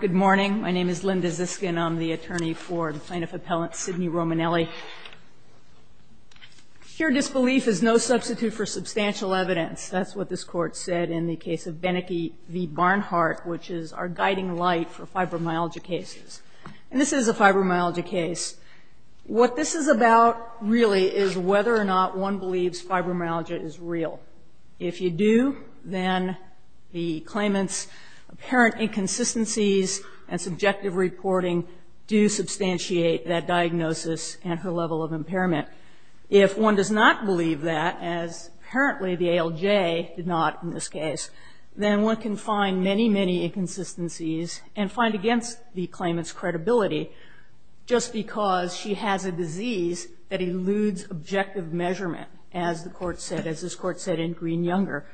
Good morning. My name is Linda Ziskin. I'm the attorney for the plaintiff appellant Sidney Romanelli. Pure disbelief is no substitute for substantial evidence. That's what this Court said in the case of Benecke v. Barnhart, which is our guiding light for fibromyalgia cases. And this is a fibromyalgia case. What this is about really is whether or not one believes fibromyalgia is real. If you do, then the claimant's apparent inconsistencies and subjective reporting do substantiate that diagnosis and her level of impairment. If one does not believe that, as apparently the ALJ did not in this case, then one can find many, many inconsistencies and find against the claimant's credibility just because she has a disease that eludes objective measurement, as the Court said, as this Court said in Green-Younger.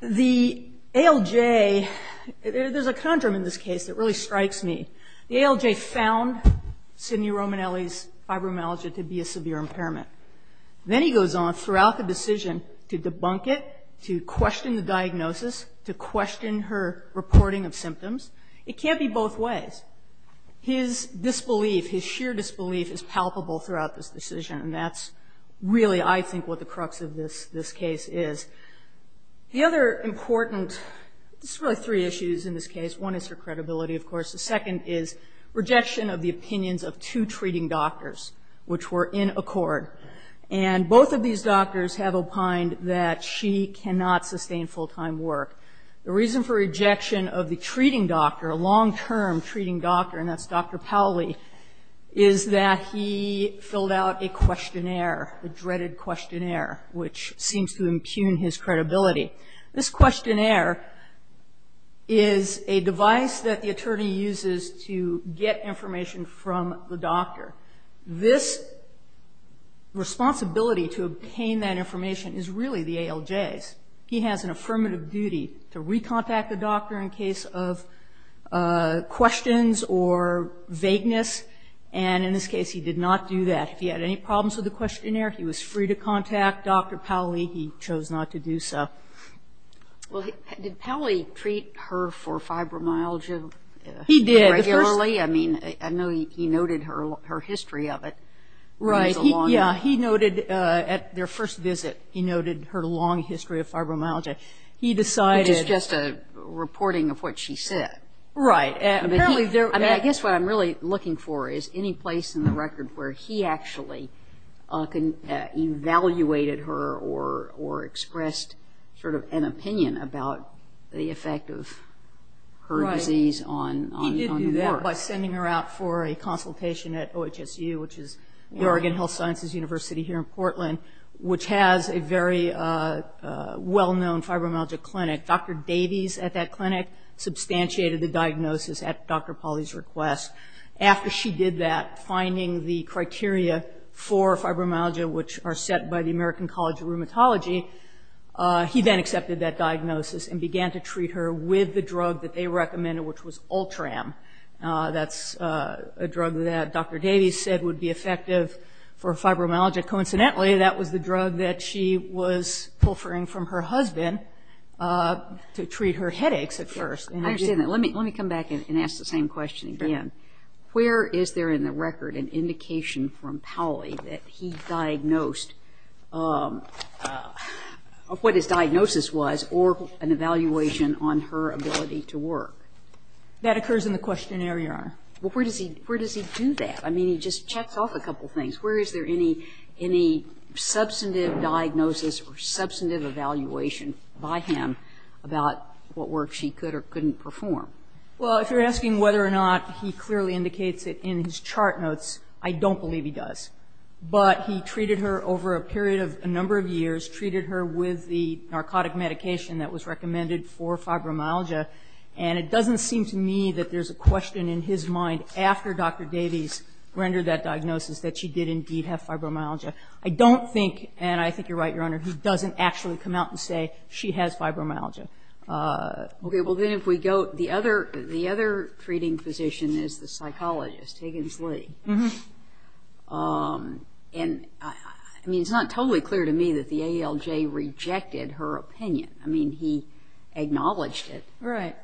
The ALJ, there's a conundrum in this case that really strikes me. The ALJ found Sidney Romanelli's fibromyalgia to be a severe impairment. Then he goes on throughout the decision to of symptoms. It can't be both ways. His disbelief, his sheer disbelief is palpable throughout this decision. And that's really, I think, what the crux of this case is. The other important, there's really three issues in this case. One is her credibility, of course. The second is rejection of the opinions of two treating doctors, which were in accord. And both of these doctors have opined that she cannot sustain full-time work. The reason for rejection of the treating doctor, a long-term treating doctor, and that's Dr. Powley, is that he filled out a questionnaire, a dreaded questionnaire, which seems to impugn his credibility. This questionnaire is a device that the attorney uses to get information from the doctor. This responsibility to obtain that information is really the ALJ's. He has an affirmative duty to recontact the doctor in case of questions or vagueness. And in this case, he did not do that. If he had any problems with the questionnaire, he was free to contact Dr. Powley. He chose not to do so. Well, did Powley treat her for fibromyalgia regularly? He did. I mean, I know he noted her history of it. Right. He noted at their first visit, he noted her long history of fibromyalgia. He decided Which is just a reporting of what she said. Right. I mean, I guess what I'm really looking for is any place in the record where he actually evaluated her or expressed sort of an opinion about the effect of her disease on the work. By sending her out for a consultation at OHSU, which is the Oregon Health Sciences University here in Portland, which has a very well-known fibromyalgia clinic. Dr. Davies at that clinic substantiated the diagnosis at Dr. Powley's request. After she did that, finding the criteria for fibromyalgia, which are set by the American College of Rheumatology, he then accepted that diagnosis and began to treat her with the drug that they recommended, which was Ultram. That's a drug that Dr. Davies said would be effective for fibromyalgia. Coincidentally, that was the drug that she was pulverizing from her husband to treat her headaches at first. I understand that. Let me come back and ask the same question again. Where is there in the record an indication from Powley that he diagnosed, of what his diagnosis was, that he was, or an evaluation on her ability to work? That occurs in the questionnaire, Your Honor. Well, where does he do that? I mean, he just checks off a couple of things. Where is there any substantive diagnosis or substantive evaluation by him about what work she could or couldn't perform? Well, if you're asking whether or not he clearly indicates it in his chart notes, I don't believe he does. But he treated her over a period of a number of years, treated her with the narcotic medication that was recommended for fibromyalgia. And it doesn't seem to me that there's a question in his mind after Dr. Davies rendered that diagnosis that she did indeed have fibromyalgia. I don't think, and I think you're right, Your Honor, he doesn't actually come out and say she has fibromyalgia. Okay. Well, then if we go, the other treating physician is the psychologist, Higgins Lee. And, I mean, it's not totally clear to me that the ALJ rejected her opinion. I mean, he acknowledged it. Right.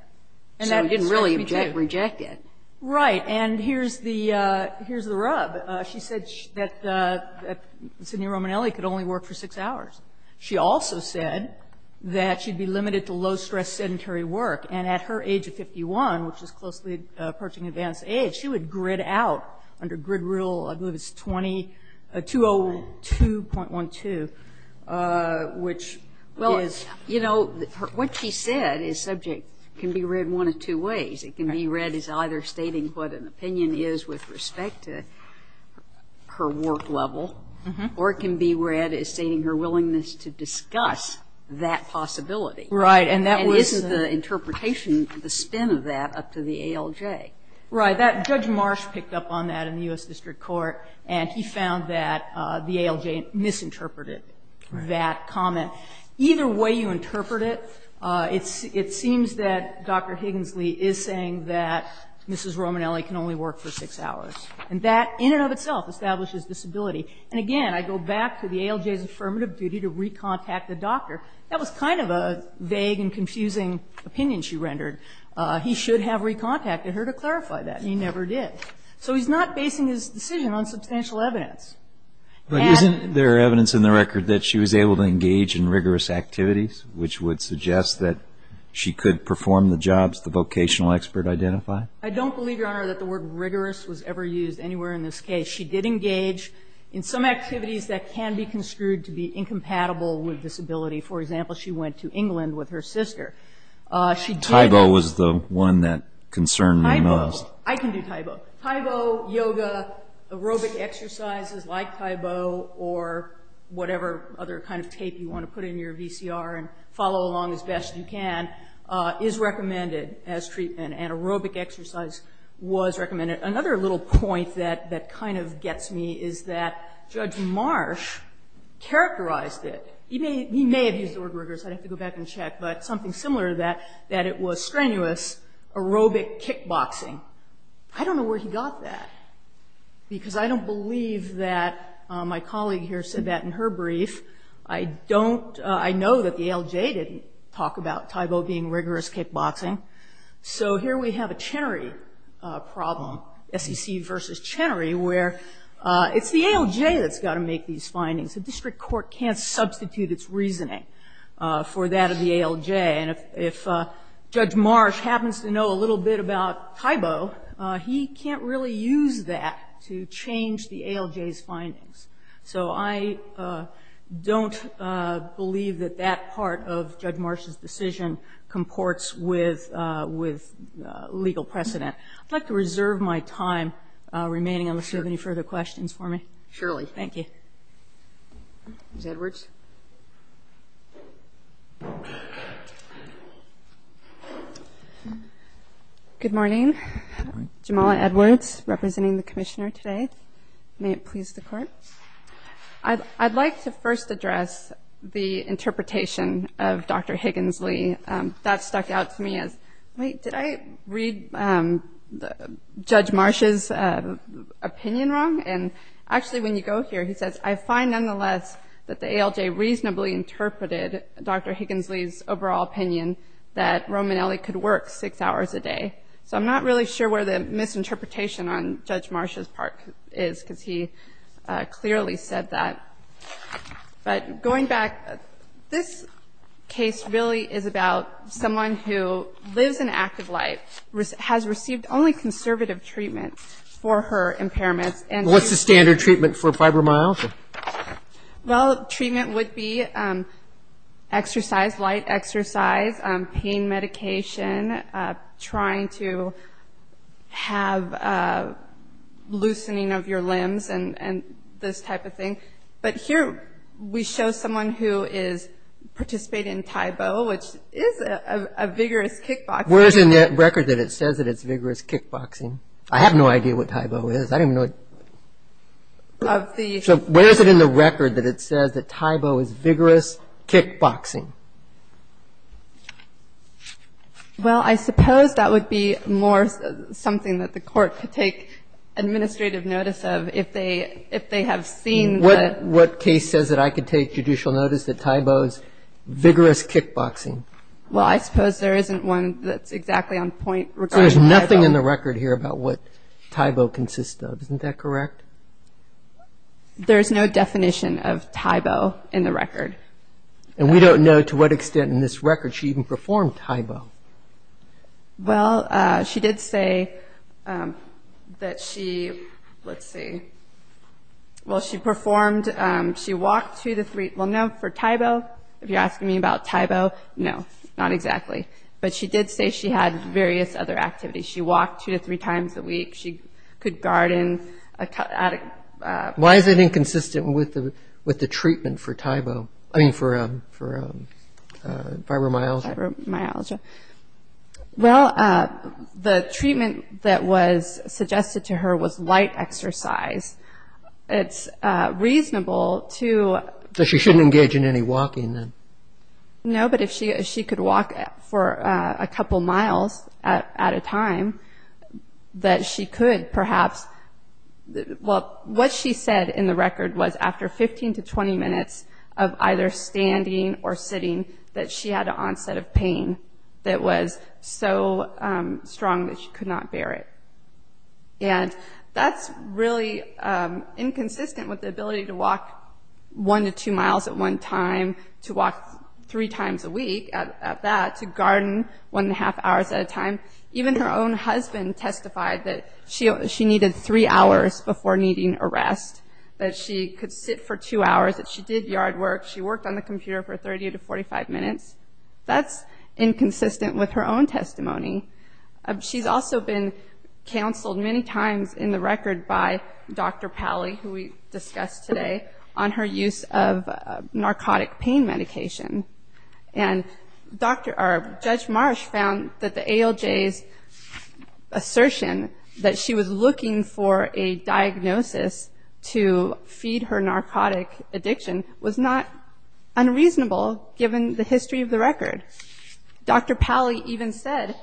And that didn't surprise me, too. So he didn't really reject it. Right. And here's the rub. She said that Sidney Romanelli could only work for six hours. She also said that she'd be limited to low-stress sedentary work. And at her age of 51, which is closely approaching advanced age, she would grid out under grid rule, I believe it's 20, 202.12, which is… Well, you know, what she said is subject can be read one of two ways. It can be read as either stating what an opinion is with respect to her work level, or it can be read as stating her willingness to discuss that possibility. Right. And that was… And there was no interpretation of the spin of that up to the ALJ. Right. Judge Marsh picked up on that in the U.S. District Court, and he found that the ALJ misinterpreted that comment. Either way you interpret it, it seems that Dr. Higgins Lee is saying that Mrs. Romanelli can only work for six hours. And that in and of itself establishes disability. And, again, I go back to the ALJ's affirmative duty to recontact the doctor. That was kind of a vague and confusing opinion she rendered. He should have recontacted her to clarify that. He never did. So he's not basing his decision on substantial evidence. But isn't there evidence in the record that she was able to engage in rigorous activities, which would suggest that she could perform the jobs the vocational expert identified? I don't believe, Your Honor, that the word rigorous was ever used anywhere in this case. She did engage in some activities that can be construed to be incompatible with disability. For example, she went to England with her sister. She did that. Tybo was the one that concerned me most. Tybo. I can do Tybo. Tybo, yoga, aerobic exercises like Tybo, or whatever other kind of tape you want to put in your VCR and follow along as best you can, is recommended as treatment. And aerobic exercise was recommended. Another little point that kind of gets me is that Judge Marsh characterized it. He may have used the word rigorous. I'd have to go back and check. But something similar to that, that it was strenuous aerobic kickboxing. I don't know where he got that, because I don't believe that my colleague here said that in her brief. I know that the ALJ didn't talk about Tybo being rigorous kickboxing. So here we have a Chenery problem, SEC versus Chenery, where it's the ALJ that's got to make these findings. The district court can't substitute its reasoning for that of the ALJ. And if Judge Marsh happens to know a little bit about Tybo, he can't really use that to change the ALJ's findings. So I don't believe that that part of Judge Marsh's decision comports with legal precedent. I'd like to reserve my time remaining unless you have any further questions for me. Thank you. Ms. Edwards. Good morning. Jamala Edwards, representing the Commissioner today. May it please the Court. I'd like to first address the interpretation of Dr. Higgins-Lee. That stuck out to me as, wait, did I read Judge Marsh's opinion wrong? And actually, when you go here, he says, I find, nonetheless, that the ALJ reasonably interpreted Dr. Higgins-Lee's overall opinion that Romanelli could work six hours a day. So I'm not really sure where the misinterpretation on Judge Marsh's part is, because he clearly said that. But going back, this case really is about someone who lives an active life, has received only conservative treatment for her impairments, and she's What's the standard treatment for fibromyalgia? Well, treatment would be exercise, light exercise, pain medication, trying to have, you know, loosening of your limbs and this type of thing. But here we show someone who is participating in Taibo, which is a vigorous kickboxing. Where is it in the record that it says that it's vigorous kickboxing? I have no idea what Taibo is. I don't even know what Of the So where is it in the record that it says that Taibo is vigorous kickboxing? Well, I suppose that would be more something that the court could take administrative notice of if they have seen that What case says that I could take judicial notice that Taibo is vigorous kickboxing? Well, I suppose there isn't one that's exactly on point regarding Taibo So there's nothing in the record here about what Taibo consists of. Isn't that correct? There's no definition of Taibo in the record. And we don't know to what extent in this record she even performed Taibo. Well, she did say that she, let's see, well, she performed, she walked two to three, well, no, for Taibo, if you're asking me about Taibo, no, not exactly. But she did say she had various other activities. She walked two to three times a week. She could garden. Why is it inconsistent with the treatment for Taibo, I mean, for fibromyalgia? Well, the treatment that was suggested to her was light exercise. It's reasonable to So she shouldn't engage in any walking then? No, but if she could walk for a couple miles at a time, that she could perhaps, well, what she said in the record was after 15 to 20 minutes of either standing or sitting that she had an onset of pain that was so strong that she could not bear it. And that's really inconsistent with the ability to walk one to two miles at one time, to walk three times a week at that, to garden one and a half hours at a time. Even her own husband testified that she needed three hours before needing a rest, that she could sit for two hours, that she did yard work. She worked on the computer for 30 to 45 minutes. That's inconsistent with her own testimony. She's also been counseled many times in the record by Dr. Pally, who we discussed today, on her use of narcotic pain medication. And Judge Marsh found that the ALJ's assertion that she was looking for a diagnosis to feed her narcotic addiction was not unreasonable, given the history of the record. Dr. Pally even said,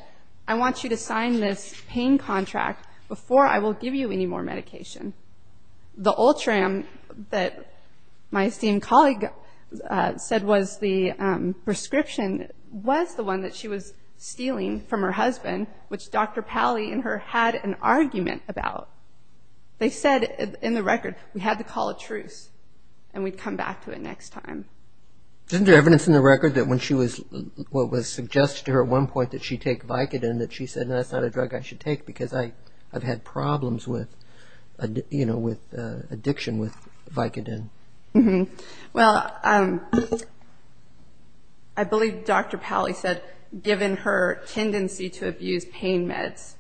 I want you to sign this pain contract before I will give you any more medication. The Ultram that my esteemed colleague said was the prescription, was the one that she was stealing from her husband, which Dr. Pally and her had an argument about. They said in the record, we had to call a truce, and we'd come back to it next time. Isn't there evidence in the record that when she was, what was suggested to her at one point, that she'd take Vicodin, that she said, that's not a drug I should take, because I've had problems with addiction with Vicodin. Well, I believe Dr. Pally said, given her tendency to abuse pain meds,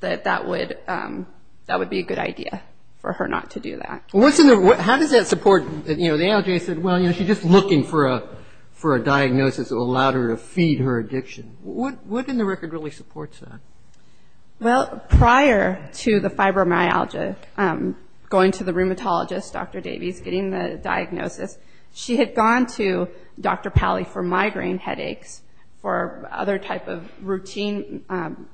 that that would be a good idea for her not to do that. How does that support, the ALJ said, well, she's just looking for a diagnosis that will allow her to feed her addiction. What in the record really supports that? Well, prior to the fibromyalgia, going to the rheumatologist, Dr. Davies, getting the diagnosis, she had gone to Dr. Pally for migraine headaches, for other type of routine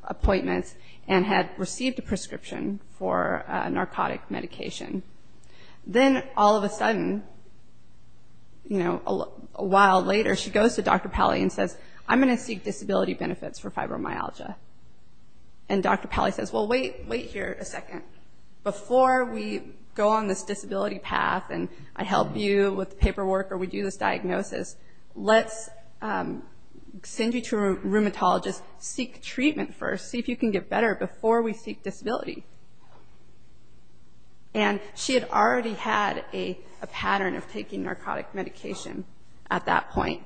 appointments, and had received a prescription for a narcotic medication. Then, all of a sudden, you know, a while later, she goes to Dr. Pally and says, I'm going to seek disability benefits for fibromyalgia. And Dr. Pally says, well, wait here a second. Before we go on this disability path, and I help you with the paperwork, or we do this diagnosis, let's send you to a rheumatologist, seek treatment first, see if you can get better before we seek disability. And she had already had a pattern of taking narcotic medication at that point.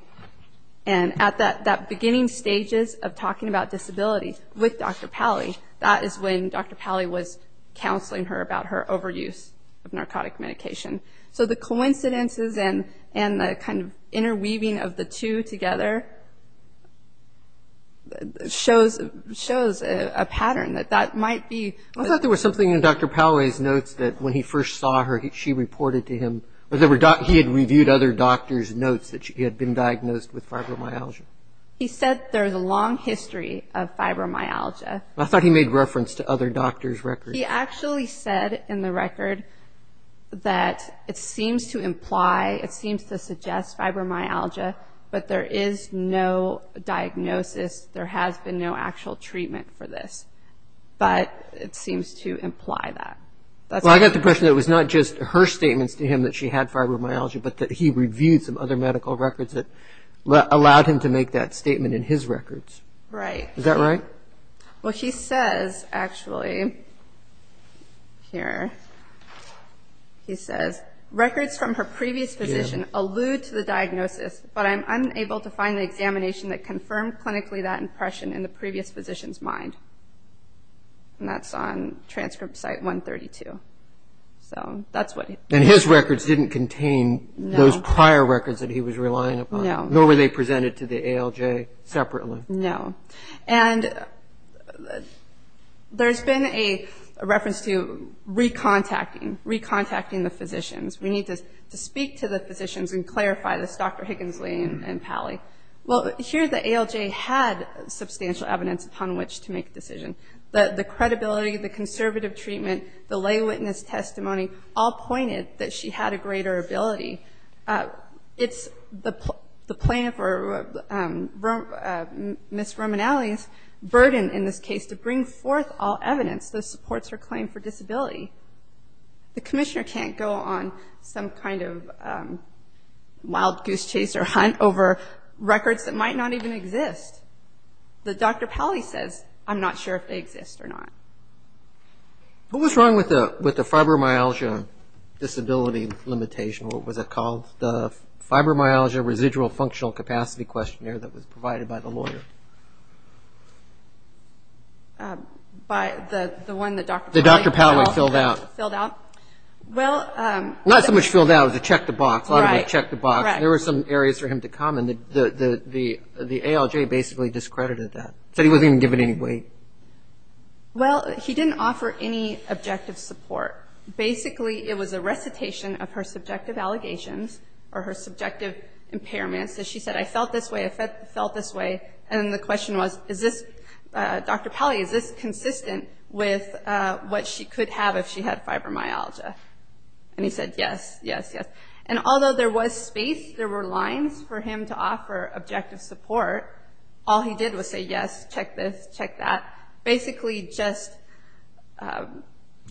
And at that beginning stages of talking about disability with Dr. Pally, that is when Dr. Pally was counseling her about her overuse of narcotic medication. So the coincidences and the kind of interweaving of the two together shows a pattern that that might be. I thought there was something in Dr. Pally's notes that when he first saw her, she reported to him, or he had reviewed other doctors' notes that she had been diagnosed with fibromyalgia. He said there's a long history of fibromyalgia. I thought he made reference to other doctors' records. He actually said in the record that it seems to imply, it seems to suggest fibromyalgia, but there is no diagnosis, there has been no actual treatment for this. But it seems to imply that. Well, I got the impression that it was not just her statements to him that she had fibromyalgia, but that he reviewed some other medical records that allowed him to make that statement in his records. Right. Is that right? Well, he says actually, here, he says, records from her previous physician allude to the diagnosis, but I'm unable to find the examination that confirmed clinically that impression in the previous physician's mind. And that's on transcript site 132. So that's what he... And his records didn't contain those prior records that he was relying upon. No. Nor were they presented to the ALJ separately. No. And there's been a reference to recontacting, recontacting the physicians. We need to speak to the physicians and clarify this, Dr. Higginsley and Pally. Well, here the ALJ had substantial evidence upon which to make a decision. The credibility, the conservative treatment, the lay witness testimony, all pointed that she had a greater ability. It's the plaintiff, or Ms. Romanelli's, burden in this case to bring forth all evidence that supports her claim for disability. The commissioner can't go on some kind of wild goose chase or hunt over records that might not even exist. The Dr. Pally says, I'm not sure if they exist or not. What was wrong with the fibromyalgia disability limitation? What was it called? The fibromyalgia residual functional capacity questionnaire that was provided by the lawyer. By the one that Dr. Pally filled out? That Dr. Pally filled out. Well... Not so much filled out, it was a check the box. Right. A lot of it was a check the box. There were some areas for him to comment. The ALJ basically discredited that. Said he wasn't even given any weight. Well, he didn't offer any objective support. Basically, it was a recitation of her subjective allegations or her subjective impairments. She said, I felt this way, I felt this way. And the question was, Dr. Pally, is this consistent with what she could have if she had fibromyalgia? And he said, yes, yes, yes. And although there was space, there were lines for him to offer objective support, all he did was say, yes, check this, check that. Basically, just...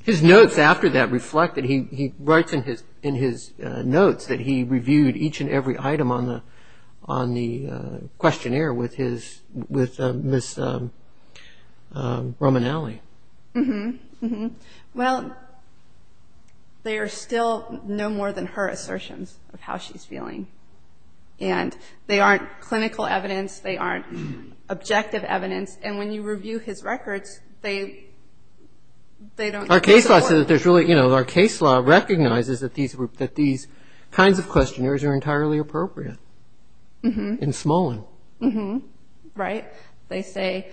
His notes after that reflect that he writes in his notes that he reviewed each and every item on the questionnaire with Ms. Romanelli. Mm-hmm. Well, they are still no more than her assertions of how she's feeling. And they aren't clinical evidence. They aren't objective evidence. And when you review his records, they don't... Our case law says that there's really... Our case law recognizes that these kinds of questionnaires are entirely appropriate in Smolin. Mm-hmm, right. They say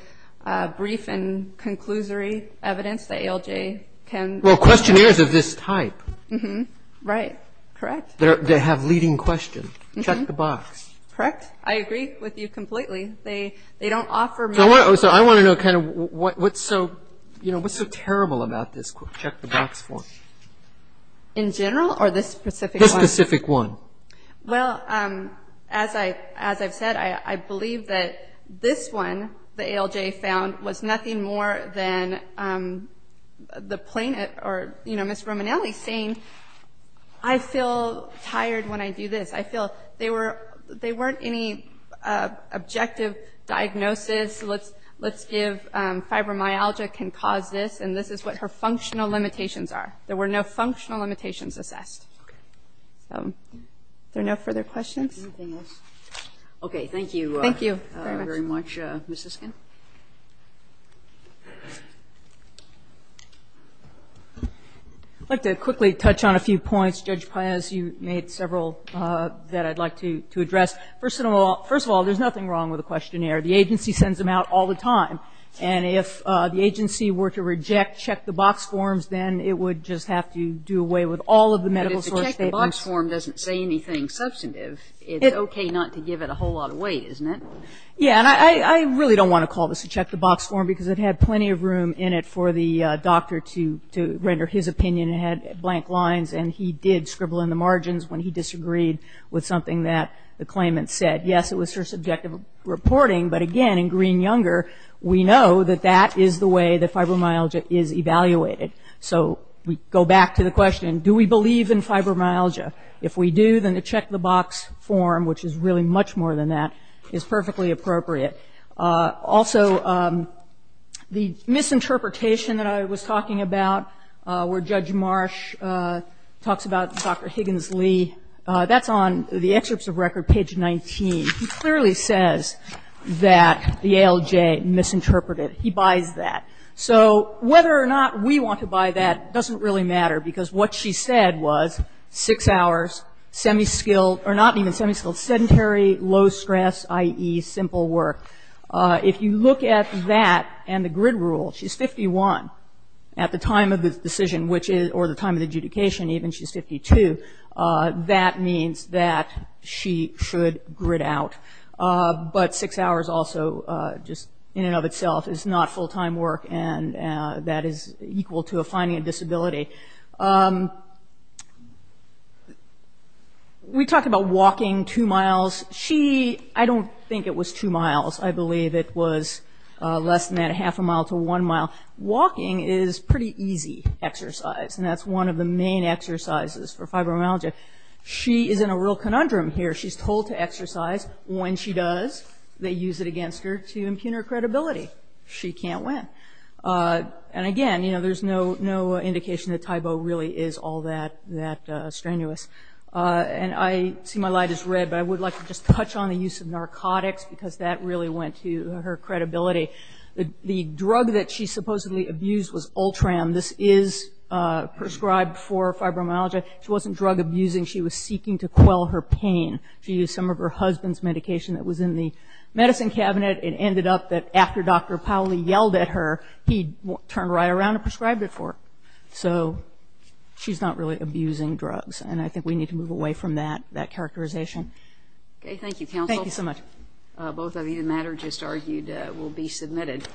brief and conclusory evidence. The ALJ can... Well, questionnaires of this type. Mm-hmm, right, correct. They have leading question. Check the box. Correct. I agree with you completely. They don't offer... So I want to know kind of what's so terrible about this check the box form. In general or this specific one? This specific one. Well, as I've said, I believe that this one the ALJ found was nothing more than the plaintiff or, you know, Ms. Romanelli saying, I feel tired when I do this. I feel they were... They weren't any objective diagnosis. Let's give fibromyalgia can cause this. And this is what her functional limitations are. There were no functional limitations assessed. Okay. Are there no further questions? Anything else? Okay, thank you. Thank you very much. Ms. Siskin? I'd like to quickly touch on a few points. Judge Paez, you made several that I'd like to address. First of all, there's nothing wrong with a questionnaire. The agency sends them out all the time. And if the agency were to reject check the box forms, then it would just have to do away with all of the medical source statements. But if the check the box form doesn't say anything substantive, it's okay not to give it a whole lot of weight, isn't it? Yeah, and I really don't want to call this a check the box form because it had plenty of room in it for the doctor to render his opinion. It had blank lines, and he did scribble in the margins when he disagreed with something that the claimant said. Yes, it was for subjective reporting, but again, in Green-Younger, we know that that is the way that fibromyalgia is evaluated. So we go back to the question, do we believe in fibromyalgia? If we do, then the check the box form, which is really much more than that, is perfectly appropriate. Also, the misinterpretation that I was talking about where Judge Marsh talks about Dr. Higgins-Lee, that's on the excerpts of record, page 19. He clearly says that the ALJ misinterpreted. He buys that. So whether or not we want to buy that doesn't really matter because what she said was six hours, semi-skilled sedentary, low stress, i.e. simple work. If you look at that and the grid rule, she's 51 at the time of the decision, or the time of the adjudication even, she's 52. That means that she should grid out. But six hours also, just in and of itself, is not full-time work and that is equal to a finding a disability. We talked about walking two miles. I don't think it was two miles. I believe it was less than that, half a mile to one mile. Walking is pretty easy exercise and that's one of the main exercises for fibromyalgia. She is in a real conundrum here. She's told to exercise. When she does, they use it against her to impugn her credibility. She can't win. Again, there's no indication that Tybo really is all that strenuous. I see my light is red, but I would like to just touch on the use of narcotics because that really went to her credibility. The drug that she supposedly abused was Ultram. This is prescribed for fibromyalgia. She wasn't drug abusing. She was seeking to quell her pain. She used some of her husband's medication that was in the medicine cabinet. It ended up that after Dr. Powley yelled at her, he turned right around and prescribed it for her. She's not really abusing drugs and I think we need to move away from that characterization. Thank you, counsel. Both of you, the matter just argued will be submitted.